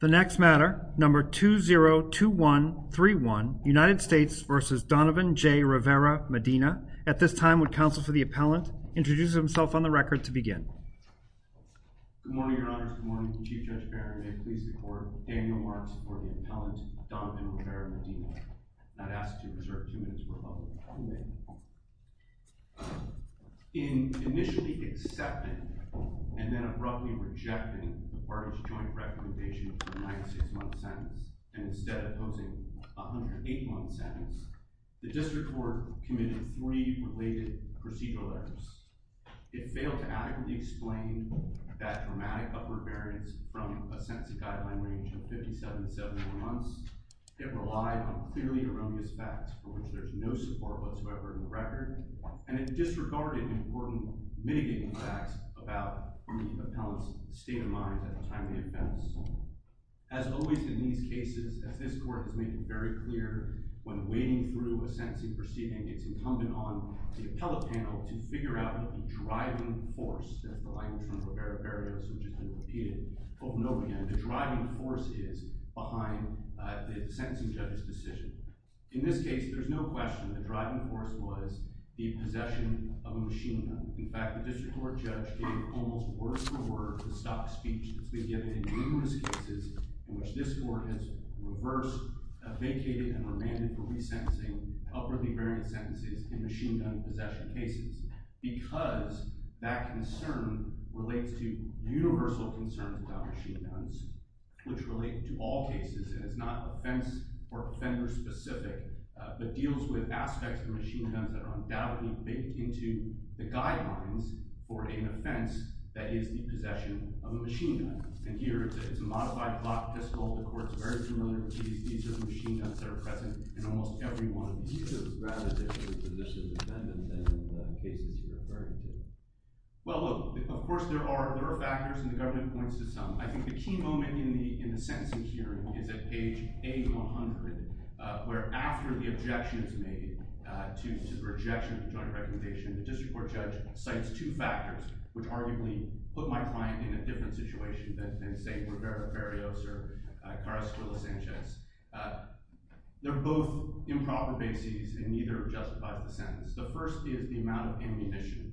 The next matter, number 202131, United States v. Donovan J. Rivera-Medina. At this time, would counsel for the appellant introduce himself on the record to begin. Good morning, your honors. Good morning. Chief Judge Barron, may it please the court. Daniel Marks for the appellant, Donovan Rivera-Medina. Not asked to reserve two minutes for public comment. In initially accepting and then abruptly rejecting the parties' joint recommendation for a 96-month sentence, and instead opposing a 108-month sentence, the district court committed three related procedural errors. It failed to adequately explain that dramatic upward variance from a sentencing guideline range of 57 to 74 months. It relied on clearly erroneous facts, for which there is no support whatsoever in the record. And it disregarded important mitigating facts about the appellant's state of mind at the time of the offense. As always in these cases, as this court has made very clear, when wading through a sentencing proceeding, it's incumbent on the appellate panel to figure out the driving force, that's the language from Rivera-Barrios, which has been repeated, over and over again, the driving force is behind the sentencing judge's decision. In this case, there's no question the driving force was the possession of a machine gun. In fact, the district court judge gave almost words for words to stop the speech that's been given in numerous cases in which this court has reversed, vacated, and remanded for resentencing upwardly variant sentences in machine gun possession cases. Because that concern relates to universal concerns about machine guns, which relate to all cases, and it's not offense or offender-specific, but deals with aspects of machine guns that are undoubtedly baked into the guidelines for an offense that is the possession of a machine gun. And here, it's a modified Glock pistol. The court's very familiar with these. These are the machine guns that are present in almost every one of these cases. What about the position of defendants in the cases you're referring to? Well, look, of course there are factors, and the government points to some. I think the key moment in the sentencing hearing is at page 800, where after the objection is made to the rejection of the joint recommendation, the district court judge cites two factors, which arguably put my client in a different situation than, say, Rivera-Barrios or Carrasquillo-Sanchez. They're both improper bases, and neither justifies the sentence. The first is the amount of ammunition.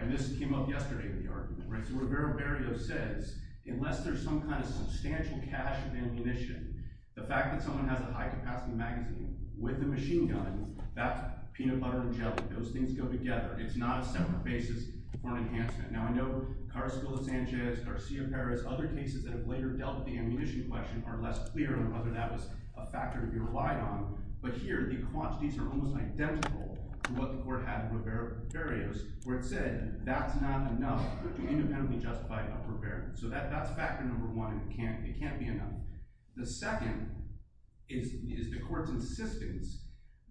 And this came up yesterday in the argument. So Rivera-Barrios says, unless there's some kind of substantial cache of ammunition, the fact that someone has a high-capacity magazine with a machine gun, that's peanut butter and jelly. Those things go together. It's not a separate basis for an enhancement. Now, I know Carrasquillo-Sanchez, Garcia-Perez, other cases that have later dealt with the ammunition question are less clear on whether that was a factor to be relied on. But here, the quantities are almost identical to what the court had in Rivera-Barrios, where it said, that's not enough. It couldn't be independently justified by Rivera. So that's factor number one. It can't be enough. The second is the court's insistence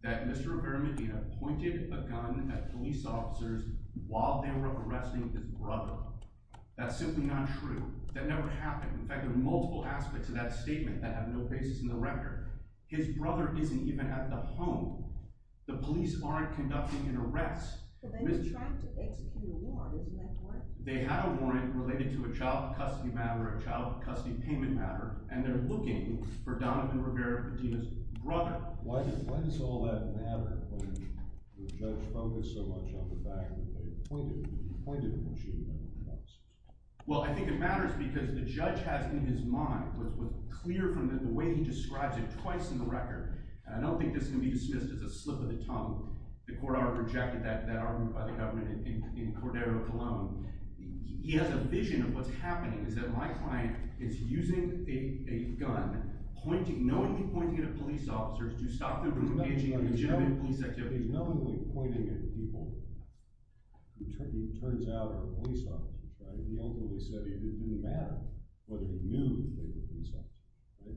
that Mr. Rivera may have pointed a gun at police officers while they were arresting his brother. That's simply not true. That never happened. In fact, there are multiple aspects of that statement that have no basis in the record. His brother isn't even at the home. The police aren't conducting an arrest. So then he's trying to execute a warrant. Isn't that correct? They had a warrant related to a child custody matter, a child custody payment matter, and they're looking for Donovan Rivera Padilla's brother. Why does all that matter when the judge focused so much on the fact that they pointed a machine gun at cops? Well, I think it matters because the judge has in his mind, what's clear from the way he describes it twice in the record, and I don't think this can be dismissed as a slip of the tongue. The court already rejected that argument by the government in Cordero alone. He has a vision of what's happening, is that my client is using a gun, knowingly pointing it at police officers to stop them from engaging in legitimate police activities. He's knowingly pointing it at people who, it turns out, are police officers, right? He only said it didn't matter whether he knew they were police officers, right?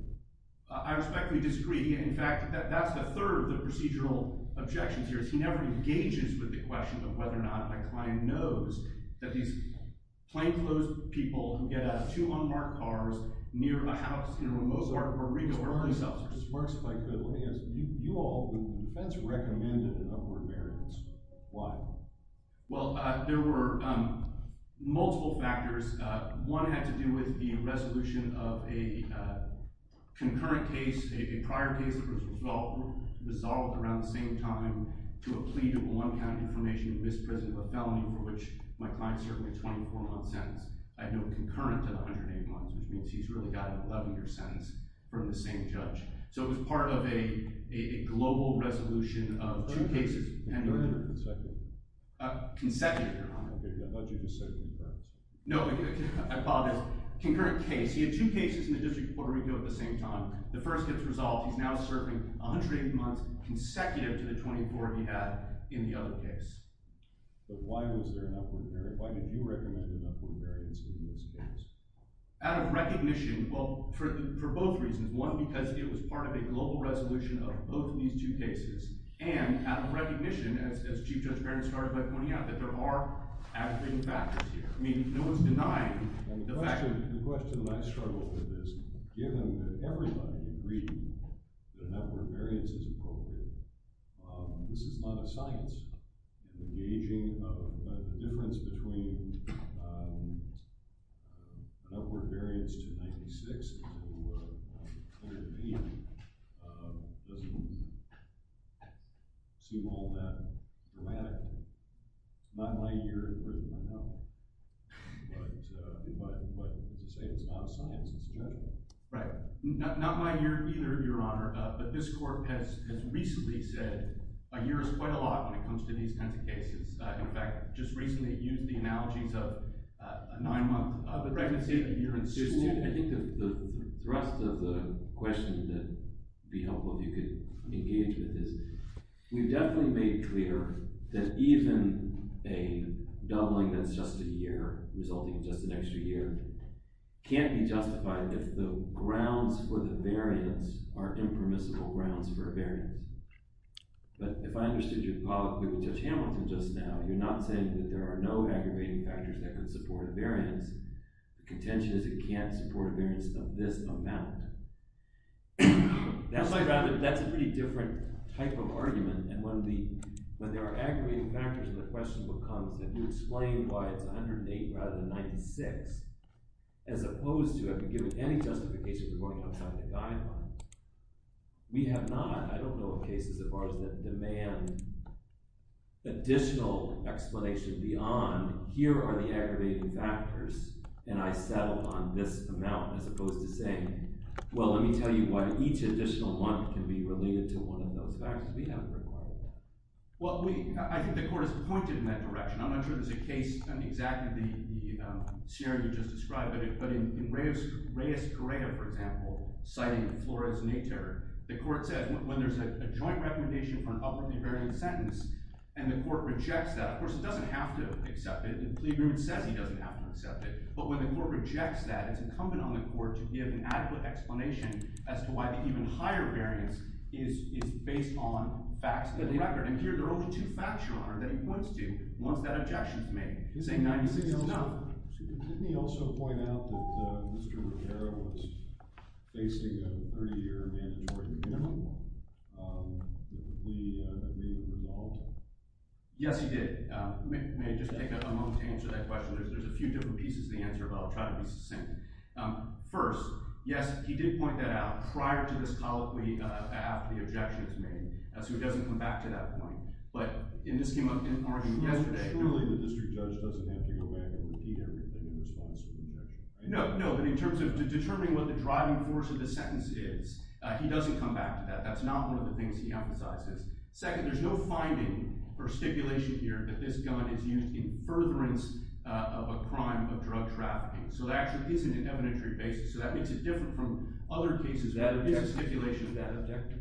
I respectfully disagree. In fact, that's the third of the procedural objections here. He never engages with the question of whether or not a client knows that these plainclothes people who get out of two unmarked cars near a house near a Mozart burrito earn themselves. Justice Marks, if I could, let me ask you, you all, the defense recommended an upward variance. Why? Well, there were multiple factors. One had to do with the resolution of a concurrent case, a prior case, that was resolved around the same time to a plea to one count information in this prison of a felony for which my client served a 24-month sentence. I know concurrent to the 108 months, which means he's really got an 11-year sentence from the same judge. So it was part of a global resolution of two cases. Concurrent or consecutive? Consecutive, Your Honor. I thought you just said concurrent. No, I apologize. Concurrent case. He had two cases in the District of Puerto Rico at the same time. The first gets resolved. He's now serving 180 months consecutive to the 24 he had in the other case. But why was there an upward variance? Why did you recommend an upward variance in this case? Out of recognition. Well, for both reasons. One, because it was part of a global resolution of both of these two cases. And out of recognition, as Chief Judge Barron started by pointing out, that there are averaging factors here. I mean, no one's denying the fact. The question that I struggle with is, given that everybody agreed the upward variance is appropriate, this is not a science. The ageing of the difference between an upward variance to 96 and to 108 doesn't seem all that dramatic. Not in my year in prison, I know. But as I say, it's not a science. It's a judgment. Right. Not in my year either, Your Honor. But this court has recently said a year is quite a lot when it comes to these kinds of cases. In fact, just recently used the analogies of a nine-month pregnancy, a year in suit. I think the thrust of the question that would be helpful if you could engage with this, we've definitely made clear that even a doubling that's just a year, resulting in just an extra year, can't be justified if the grounds for the variance are impermissible grounds for a variance. But if I understood you politically with Judge Hamilton just now, you're not saying that there are no aggravating factors that could support a variance. The contention is it can't support a variance of this amount. That's a pretty different type of argument, and when there are aggravating factors, the question becomes, if you explain why it's 108 rather than 96, as opposed to if you give any justification for going outside the guideline, we have not. I don't know of cases of ours that demand additional explanation beyond, here are the aggravating factors, and I settle on this amount, as opposed to saying, well, let me tell you why each additional month can be related to one of those factors. We haven't required that. Well, I think the court has pointed in that direction. I'm not sure there's a case on exactly the scenario you just described, but in Reyes-Correa, for example, citing Flores-Natur, the court says, when there's a joint recommendation for an upwardly varying sentence, and the court rejects that, of course, it doesn't have to accept it. The plea agreement says he doesn't have to accept it. But when the court rejects that, it's incumbent on the court to give an adequate explanation as to why the even higher variance is based on facts of the record. And here there are only two facts, Your Honor, that he points to once that objection is made, saying 96 is not. Didn't he also point out that Mr. Rivera was facing a 30-year mandatory remittal? Did he make a result? Yes, he did. May I just take a moment to answer that question? There's a few different pieces to the answer, but I'll try to be succinct. First, yes, he did point that out prior to this colloquy after the objection was made, so it doesn't come back to that point. But in this scheme of arguing yesterday— Surely the district judge doesn't have to go back and repeat everything in response to the objection. No, but in terms of determining what the driving force of the sentence is, he doesn't come back to that. That's not one of the things he emphasizes. Second, there's no finding or stipulation here that this gun is used in furtherance of a crime of drug trafficking. So that actually is an evidentiary basis, so that makes it different from other cases where there's a stipulation. Is that objective?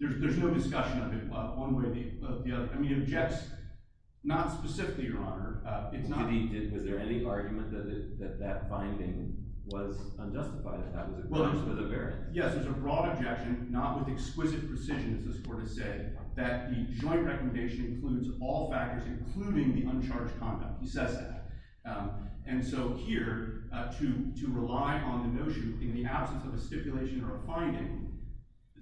There's no discussion of it one way or the other. I mean, it objects not specifically, Your Honor. Was there any argument that that finding was unjustified? Yes, there's a broad objection, not with exquisite precision, as this court has said, that the joint recommendation includes all factors, including the uncharged conduct. He says that. And so here, to rely on the notion, in the absence of a stipulation or a finding,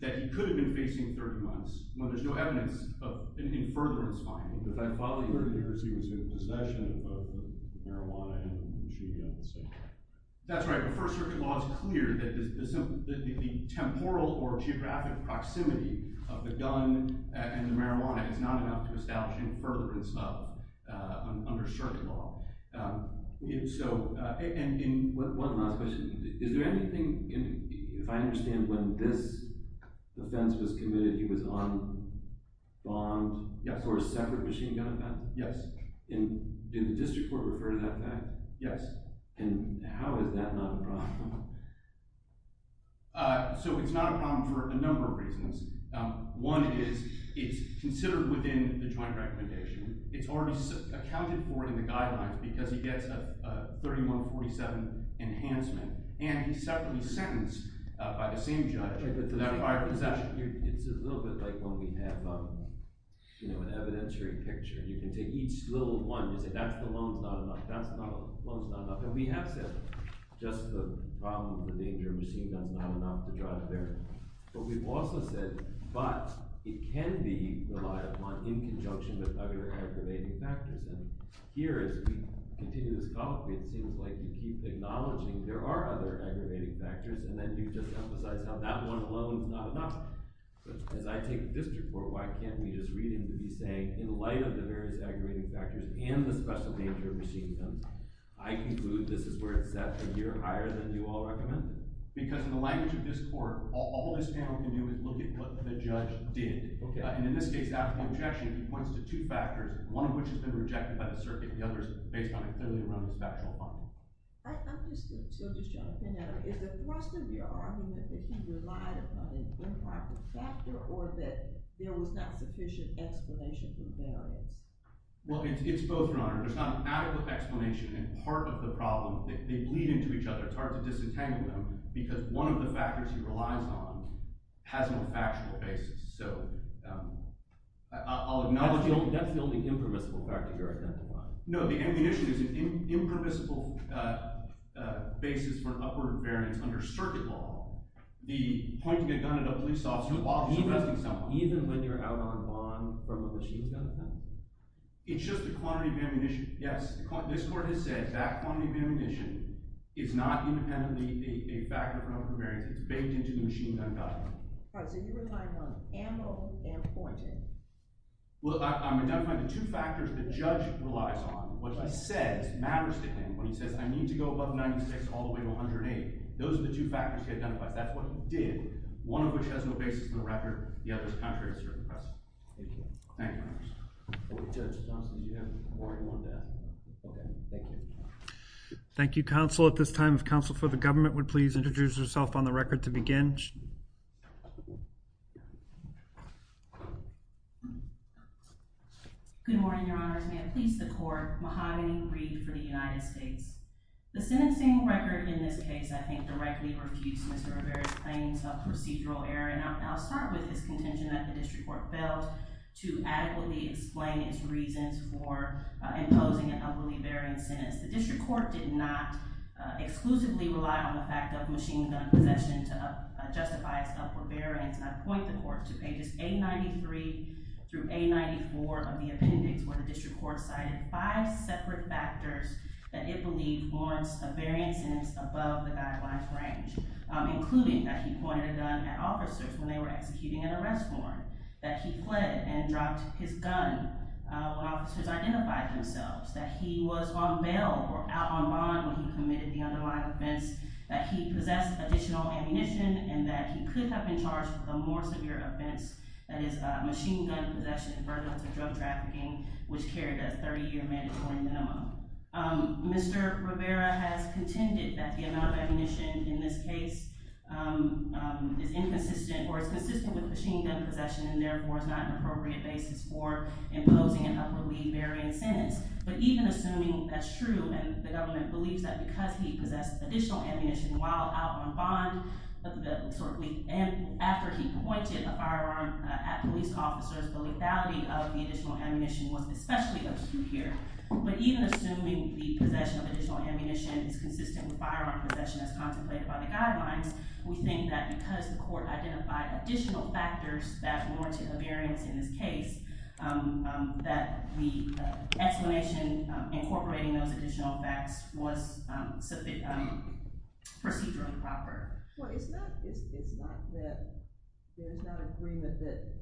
that he could have been facing 30 months when there's no evidence of any furtherance finding. But I thought earlier he was in possession of both the marijuana and the machine gun. That's right. The First Circuit law is clear that the temporal or geographic proximity of the gun and the marijuana is not enough to establish any furtherance of an underserved law. And one last question. Is there anything – if I understand when this offense was committed, he was on bond for a separate machine gun offense? Yes. Did the district court refer to that fact? Yes. And how is that not a problem? So it's not a problem for a number of reasons. One is it's considered within the joint recommendation. It's already accounted for in the guidelines because he gets a 3147 enhancement, and he's separately sentenced by the same judge for that possession. It's a little bit like when we have an evidentiary picture. You can take each little one. You say, that alone is not enough. That alone is not enough. And we have said, just the problem of the danger of a machine gun is not enough to draw it there. But we've also said, but it can be relied upon in conjunction with other aggravating factors. And here, as we continue this column, it seems like you keep acknowledging there are other aggravating factors and then you just emphasize how that one alone is not enough. But as I take the district court, why can't we just read him to be saying, in light of the various aggravating factors and the special danger of machine guns, I conclude this is where it's set a year higher than you all recommend? Because in the language of this court, all this panel can do is look at what the judge did. And in this case, after the objection, he points to two factors, one of which has been rejected by the circuit, and the other is based on and clearly around the special harm. I understood. So just jumping in, is the thrust of your argument that he relied upon an improper factor or that there was not sufficient explanation for the variance? Well, it's both, Your Honor. There's not an adequate explanation, and part of the problem, they bleed into each other. It's hard to disentangle them because one of the factors he relies on has no factual basis. So I'll acknowledge— That's the only impermissible factor you're identifying. No, the ammunition is an impermissible basis for an upward variance under circuit law. The pointing a gun at a police officer while arresting someone— Even when you're out on bond from a machine gun? It's just the quantity of ammunition. Yes, this court has said that quantity of ammunition is not independently a factor for an upward variance. It's baked into the machine gun gun. All right, so you're relying on ammo and pointing. Well, I'm identifying the two factors the judge relies on. What he says matters to him when he says, I need to go above 96 all the way to 108. Those are the two factors he identifies. That's what he did, one of which has no basis in the record. Thank you. Thank you, Your Honor. Judge Thompson, you have more than one death. Okay, thank you. Thank you, counsel. At this time, if counsel for the government would please introduce herself on the record to begin. Good morning, Your Honors. May it please the court. Mahogany Reed for the United States. The sentencing record in this case, I think, directly refutes Mr. Rivera's claims of procedural error. And I'll start with his contention that the district court failed to adequately explain its reasons for imposing an upwardly varying sentence. The district court did not exclusively rely on the fact of machine gun possession to justify its upward variance. I point the court to pages 893 through 894 of the appendix where the district court cited five separate factors that it believed warrants a varying sentence above the guidelines range, including that he pointed a gun at officers when they were executing an arrest warrant, that he fled and dropped his gun when officers identified themselves, that he was on bail or out on bond when he committed the underlying offense, that he possessed additional ammunition, and that he could have been charged with a more severe offense, that is, machine gun possession and furtherance of drug trafficking, which carried a 30-year mandatory minimum. Mr. Rivera has contended that the amount of ammunition in this case is inconsistent or is consistent with machine gun possession and therefore is not an appropriate basis for imposing an upwardly varying sentence. But even assuming that's true and the government believes that because he possessed additional ammunition while out on bond, after he pointed a firearm at police officers, the lethality of the additional ammunition was especially obscure here. But even assuming the possession of additional ammunition is consistent with firearm possession as contemplated by the guidelines, we think that because the court identified additional factors that warranted a variance in this case, that the explanation incorporating those additional facts was procedurally proper. Well, it's not that there's not agreement that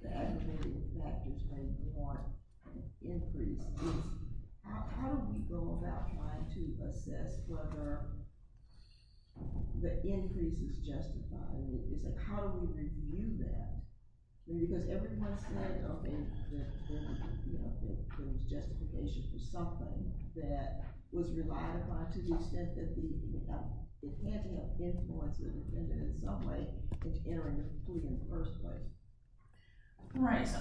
the aggravating factors may warrant an increase. It's how do we go about trying to assess whether the increase is justified? It's like, how do we review that? Because everyone said, okay, there's justification for something that was relied upon to the extent that we can help. We can't help influence it, and then in some way, it's entering a plea in the first place. Right. So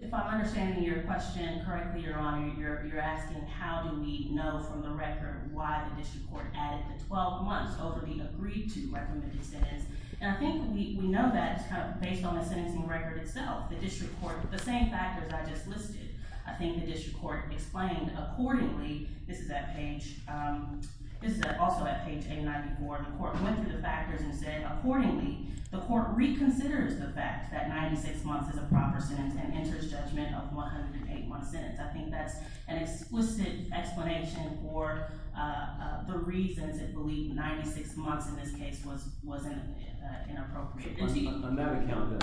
if I'm understanding your question correctly, Your Honor, you're asking how do we know from the record why the district court added the 12 months over the agreed-to recommended sentence. And I think we know that based on the sentencing record itself. The district court, the same factors I just listed, I think the district court explained accordingly. This is also at page 894. The court went through the factors and said, accordingly, the court reconsiders the fact that 96 months is a proper sentence and enters judgment of 108 months sentence. I think that's an explicit explanation for the reason to believe 96 months in this case was inappropriate. Of course, on that account,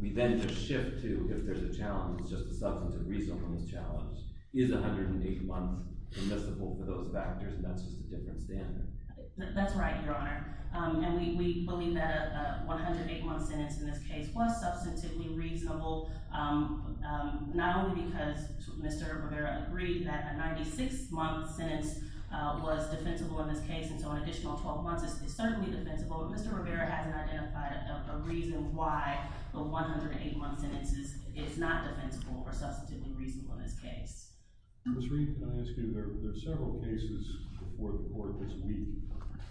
we then just shift to, if there's a challenge, it's just a substantive reason for this challenge. Is 108 months permissible for those factors, and that's just a different standard? That's right, Your Honor. And we believe that a 108-month sentence in this case was substantively reasonable, not only because Mr. Rivera agreed that a 96-month sentence was defensible in this case, and so an additional 12 months is certainly defensible, but Mr. Rivera hasn't identified a reason why the 108-month sentence is not defensible or substantively reasonable in this case. Mr. Reed, can I ask you, there are several cases before the court this week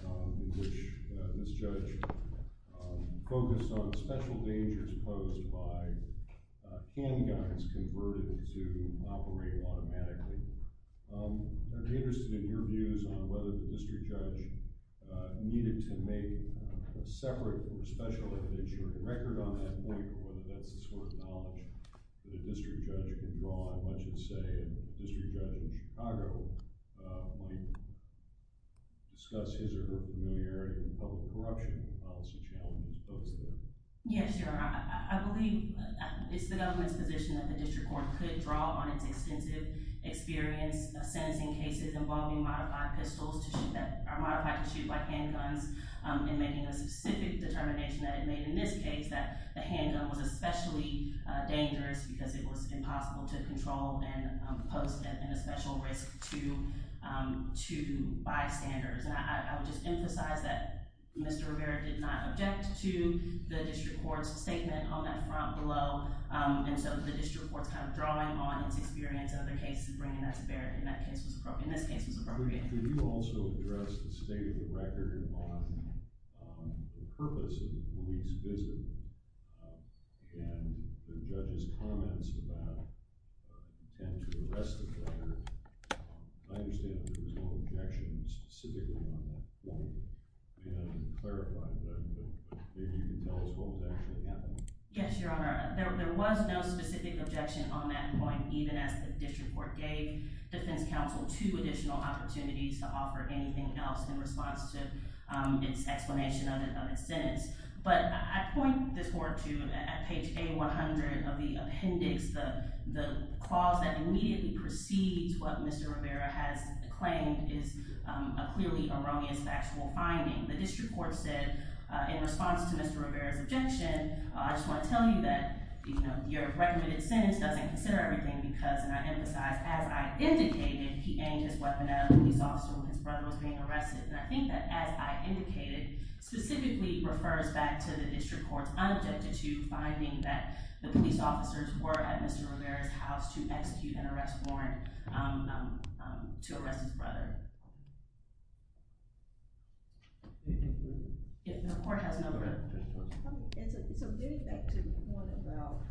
in which this judge focused on special dangers posed by handguards converted to operate automatically. I'd be interested in your views on whether the district judge needed to make a separate or special evidence-sharing record on that point or whether that's the sort of knowledge that a district judge can draw on, much as, say, a district judge in Chicago might discuss his or her familiarity in public corruption and policy challenges posed there. Yes, Your Honor. I believe it's the government's position that the district court could draw on its extensive experience sentencing cases involving modified pistols that are modified to shoot by handguns in making a specific determination that it made in this case that the handgun was especially dangerous because it was impossible to control and pose a special risk to bystanders. And I would just emphasize that Mr. Rivera did not object to the district court's statement on that front below, and so the district court's kind of drawing on its experience in other cases and bringing that to bear in this case was appropriate. Could you also address the state of the record on the purpose of the police visit and the judge's comments about the intent to arrest the driver? I understand that there was no objection specifically on that point, and clarify that, but maybe you can tell us what was actually happening. Yes, Your Honor. There was no specific objection on that point, even as the district court gave defense counsel two additional opportunities to offer anything else in response to its explanation of its sentence. But I point this forward to page A-100 of the appendix, the clause that immediately precedes what Mr. Rivera has claimed is a clearly erroneous factual finding. The district court said in response to Mr. Rivera's objection, I just want to tell you that your recommended sentence doesn't consider everything because, and I emphasize, as I indicated, he aimed his weapon at a police officer when his brother was being arrested. And I think that as I indicated specifically refers back to the district court's unobjected to finding that the police officers were at Mr. Rivera's house to execute an arrest warrant to arrest his brother. So getting back to the point about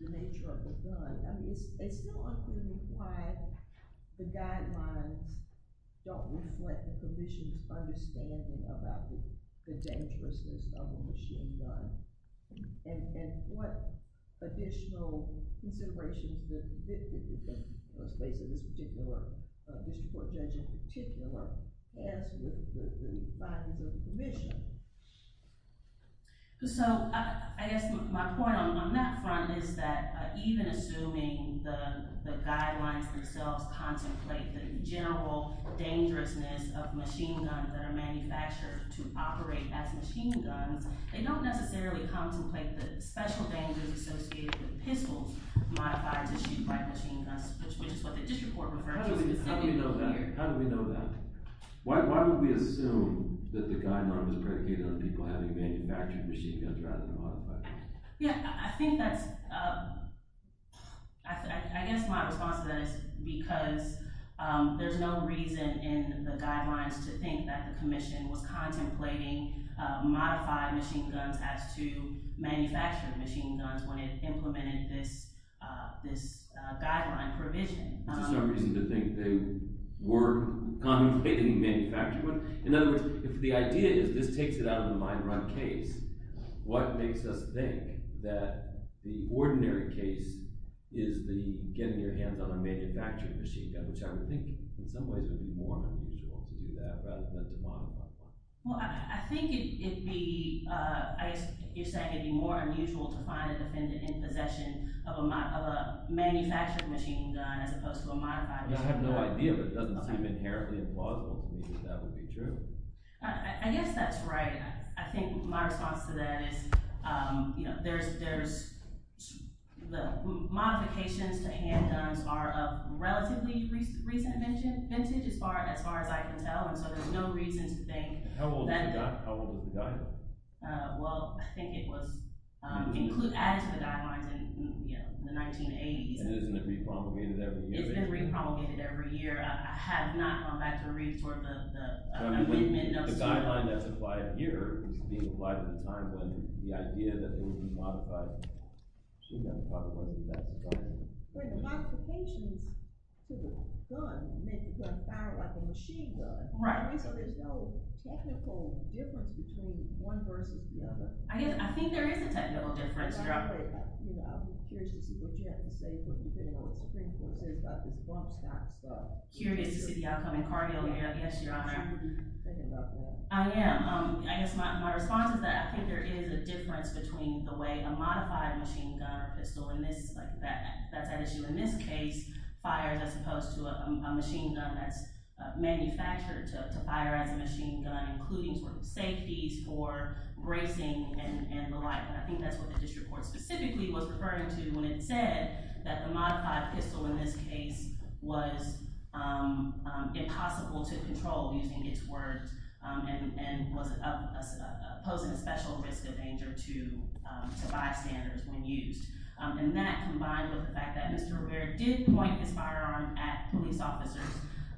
the nature of the gun, it's still unclear to me why the guidelines don't reflect the commission's understanding about the dangerousness of a machine gun. And what additional considerations does the district court judge in particular have with the findings of the commission? So I guess my point on that front is that even assuming the guidelines themselves contemplate the general dangerousness of machine guns that are manufactured to operate as machine guns, they don't necessarily contemplate the special dangers associated with pistols modified to shoot by machine guns, which is what the district court referred to. How do we know that? Why would we assume that the guideline was predicated on people having manufactured machine guns rather than modified ones? Yeah, I think that's – I guess my response to that is because there's no reason in the guidelines to think that the commission was contemplating modified machine guns as to manufactured machine guns when it implemented this guideline provision. There's no reason to think they were contemplating manufacturing one? In other words, if the idea is this takes it out of the mine run case, what makes us think that the ordinary case is the getting your hands on a manufactured machine gun, which I would think in some ways would be more unusual to do that rather than to modify one. Well, I think it'd be – I guess you're saying it'd be more unusual to find a defendant in possession of a manufactured machine gun as opposed to a modified machine gun. I have no idea, but it doesn't seem inherently implausible to me that that would be true. I guess that's right. I think my response to that is there's – modifications to handguns are of relatively recent vintage as far as I can tell, and so there's no reason to think that – How old was the guideline? Well, I think it was added to the guidelines in the 1980s. And isn't it repromulgated every year? It's been repromulgated every year. I have not gone back to read toward the amendment of – The guideline that's applied here is being applied at a time when the idea that it would be modified shouldn't have been part of what's in that guideline. Well, the modifications to the gun make the gun fire like a machine gun. Right. And so there's no technical difference between one versus the other. I think there is a technical difference. I'm curious to see what you have to say, depending on what the Supreme Court says about this bump stop stuff. Curious to see the outcome in cardio, yes, Your Honor. I guess my response is that I think there is a difference between the way a modified machine gun or pistol – and that's an issue in this case – fires as opposed to a machine gun that's manufactured to fire as a machine gun, including sort of safeties for bracing and the like. And I think that's what the district court specifically was referring to when it said that the modified pistol in this case was impossible to control using its words and was posing a special risk of danger to bystanders when used. And that, combined with the fact that Mr. Rivera did point his firearm at police officers,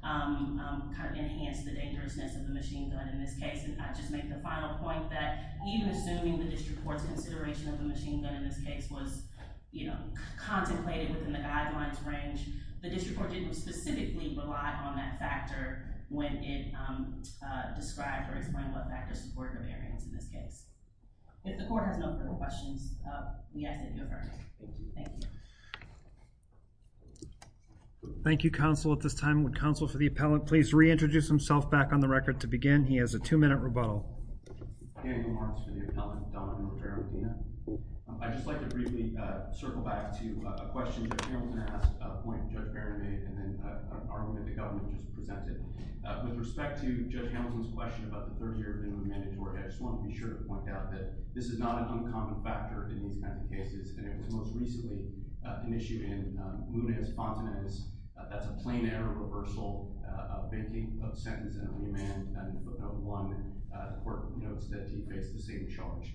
kind of enhanced the dangerousness of the machine gun in this case. And I'll just make the final point that even assuming the district court's consideration of the machine gun in this case was, you know, contemplated within the guidelines range, the district court didn't specifically rely on that factor when it described or explained what factors supported the variance in this case. If the court has no further questions, we ask that you adjourn. Thank you. Thank you, counsel. At this time, would counsel for the appellant please reintroduce himself back on the record to begin? He has a two-minute rebuttal. I'd just like to briefly circle back to a question Judge Hamilton asked, a point Judge Barron made, and an argument the government just presented. With respect to Judge Hamilton's question about the 30-year minimum mandatory, I just want to be sure to point out that this is not an uncommon factor in these kinds of cases. And it was most recently an issue in Muniz-Fontenay's. That's a plain-error reversal of banking, of sentence and on-demand, and one court notes that he faced the same charge.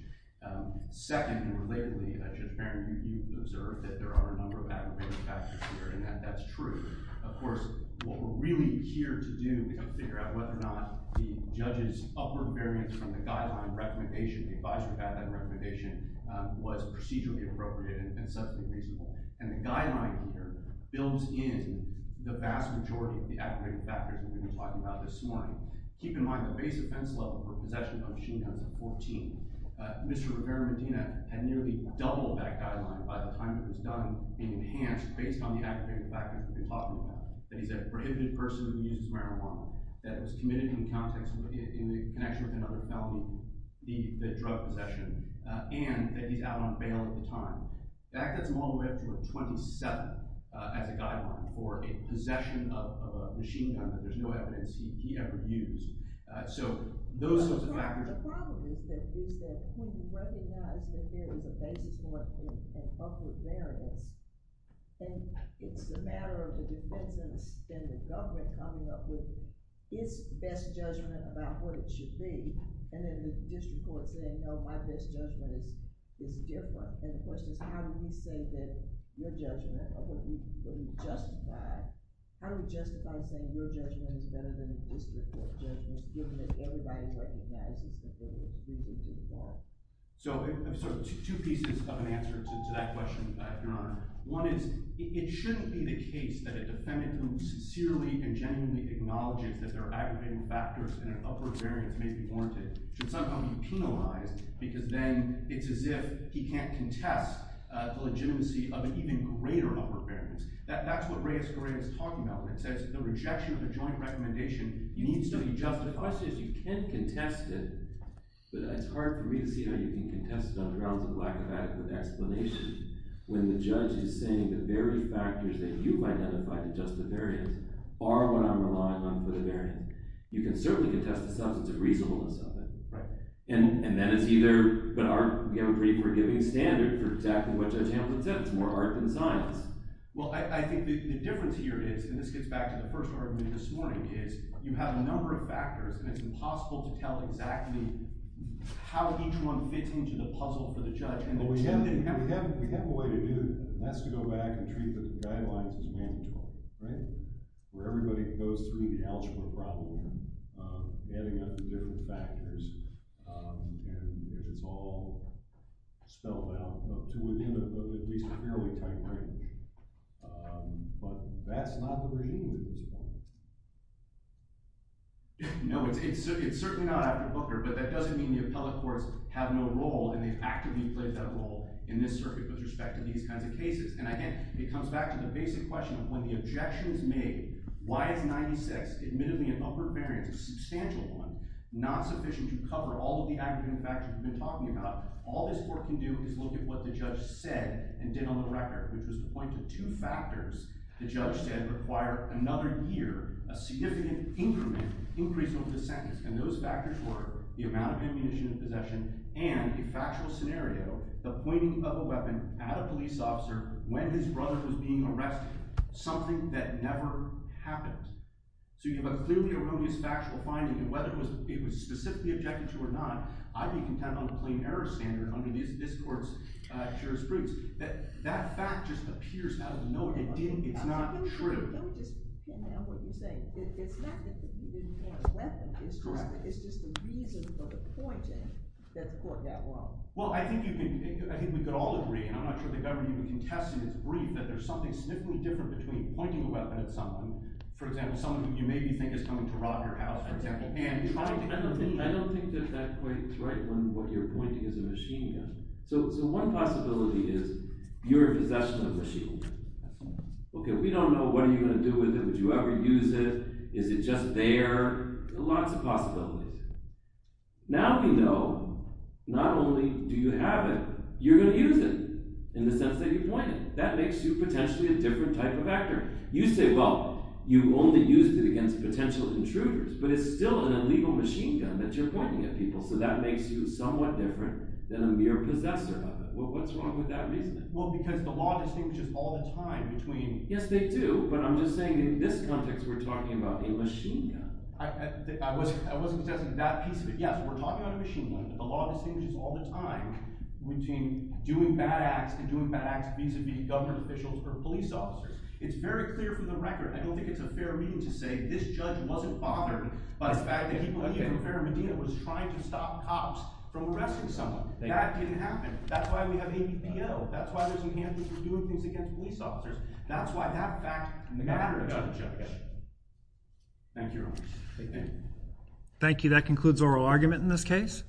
Second, and relatedly, Judge Barron, you observed that there are a number of aggravated factors here, and that's true. Of course, what we're really here to do is figure out whether or not the judge's upper variance from the guideline recommendation, the advisory guideline recommendation, was procedurally appropriate and subjectly reasonable. And the guideline here builds in the vast majority of the aggravated factors that we've been talking about this morning. Keep in mind the base offense level for possession of a machine gun is a 14. Mr. Rivera-Medina had nearly doubled that guideline by the time it was done being enhanced based on the aggravated factors that we've been talking about. That he's a prohibited person who uses marijuana, that was committed in the connection with another felony, the drug possession, and that he's out on bail at the time. That gets him all the way up to a 27 as a guideline for a possession of a machine gun that there's no evidence he ever used. So those sorts of factors. The problem is that when you recognize that there is a basis for an upward variance, and it's a matter of the defense and the government coming up with its best judgment about what it should be, and then the district court saying, no, my best judgment is different. And the question is, how do we say that your judgment, or what we justify, how do we justify saying your judgment is better than the district court's judgment, given that everybody recognizes that they were included in the warrant? So two pieces of an answer to that question, Your Honor. One is, it shouldn't be the case that a defendant who sincerely and genuinely acknowledges that their aggravated factors and an upward variance may be warranted should somehow be penalized, because then it's as if he can't contest the legitimacy of an even greater upward variance. That's what Reyes Correa is talking about when it says the rejection of a joint recommendation needs to be justified. The question is, you can contest it, but it's hard for me to see how you can contest it on grounds of lack of adequate explanation when the judge is saying the very factors that you've identified that justify the variance are what I'm relying on for the variance. You can certainly contest the substance of reasonableness of it. And then it's either, but we have a pretty forgiving standard for exactly what Judge Hamilton said. It's more art than science. Well, I think the difference here is, and this gets back to the first argument this morning, is you have a number of factors, and it's impossible to tell exactly how each one fits into the puzzle for the judge. We have a way to do that, and that's to go back and treat the guidelines as mandatory, right? Where everybody goes through the algebra problem, adding up the different factors, and if it's all spelled out to within at least a fairly tight range. But that's not the regime at this point. No, it's certainly not, but that doesn't mean the appellate courts have no role, and they've actively played that role in this circuit with respect to these kinds of cases. And again, it comes back to the basic question of when the objection is made, why is 96 admittedly an upward variance, a substantial one, not sufficient to cover all of the aggravating factors we've been talking about, all this court can do is look at what the judge said and did on the record, which was to point to two factors the judge said require another year, a significant increment, increase over the sentence. And those factors were the amount of ammunition in possession and a factual scenario, the pointing of a weapon at a police officer when his brother was being arrested, something that never happens. So you have a clearly erroneous factual finding, and whether it was specifically objected to or not, I'd be content on the plain error standard under this court's jurisprudence that that fact just appears out of nowhere. It's not true. Don't just pin down what you're saying. It's not that you didn't want a weapon. It's just the reason for the pointing that the court got wrong. Well, I think we could all agree, and I'm not sure the government can contest in its brief, that there's something significantly different between pointing a weapon at someone, for example, someone who you maybe think is coming to rob your house, for example, and trying to— I don't think that that quite is right when what you're pointing is a machine gun. So one possibility is you're in possession of a machine gun. Okay, we don't know what you're going to do with it. Would you ever use it? Is it just there? Lots of possibilities. Now we know not only do you have it, you're going to use it in the sense that you point it. That makes you potentially a different type of actor. You say, well, you only used it against potential intruders, but it's still an illegal machine gun that you're pointing at people, so that makes you somewhat different than a mere possessor of it. What's wrong with that reasoning? Well, because the law distinguishes all the time between— Yes, they do, but I'm just saying in this context we're talking about a machine gun. I wasn't suggesting that piece of it. Yes, we're talking about a machine gun, but the law distinguishes all the time between doing bad acts and doing bad acts vis-a-vis government officials or police officers. It's very clear from the record. I don't think it's a fair reading to say this judge wasn't bothered by the fact that he believed that Farrah Medina was trying to stop cops from arresting someone. That didn't happen. That's why we have ABPL. That's why there's some handlers who are doing things against police officers. That's why that fact matters to the judge. Thank you very much. Thank you. Thank you. That concludes oral argument in this case.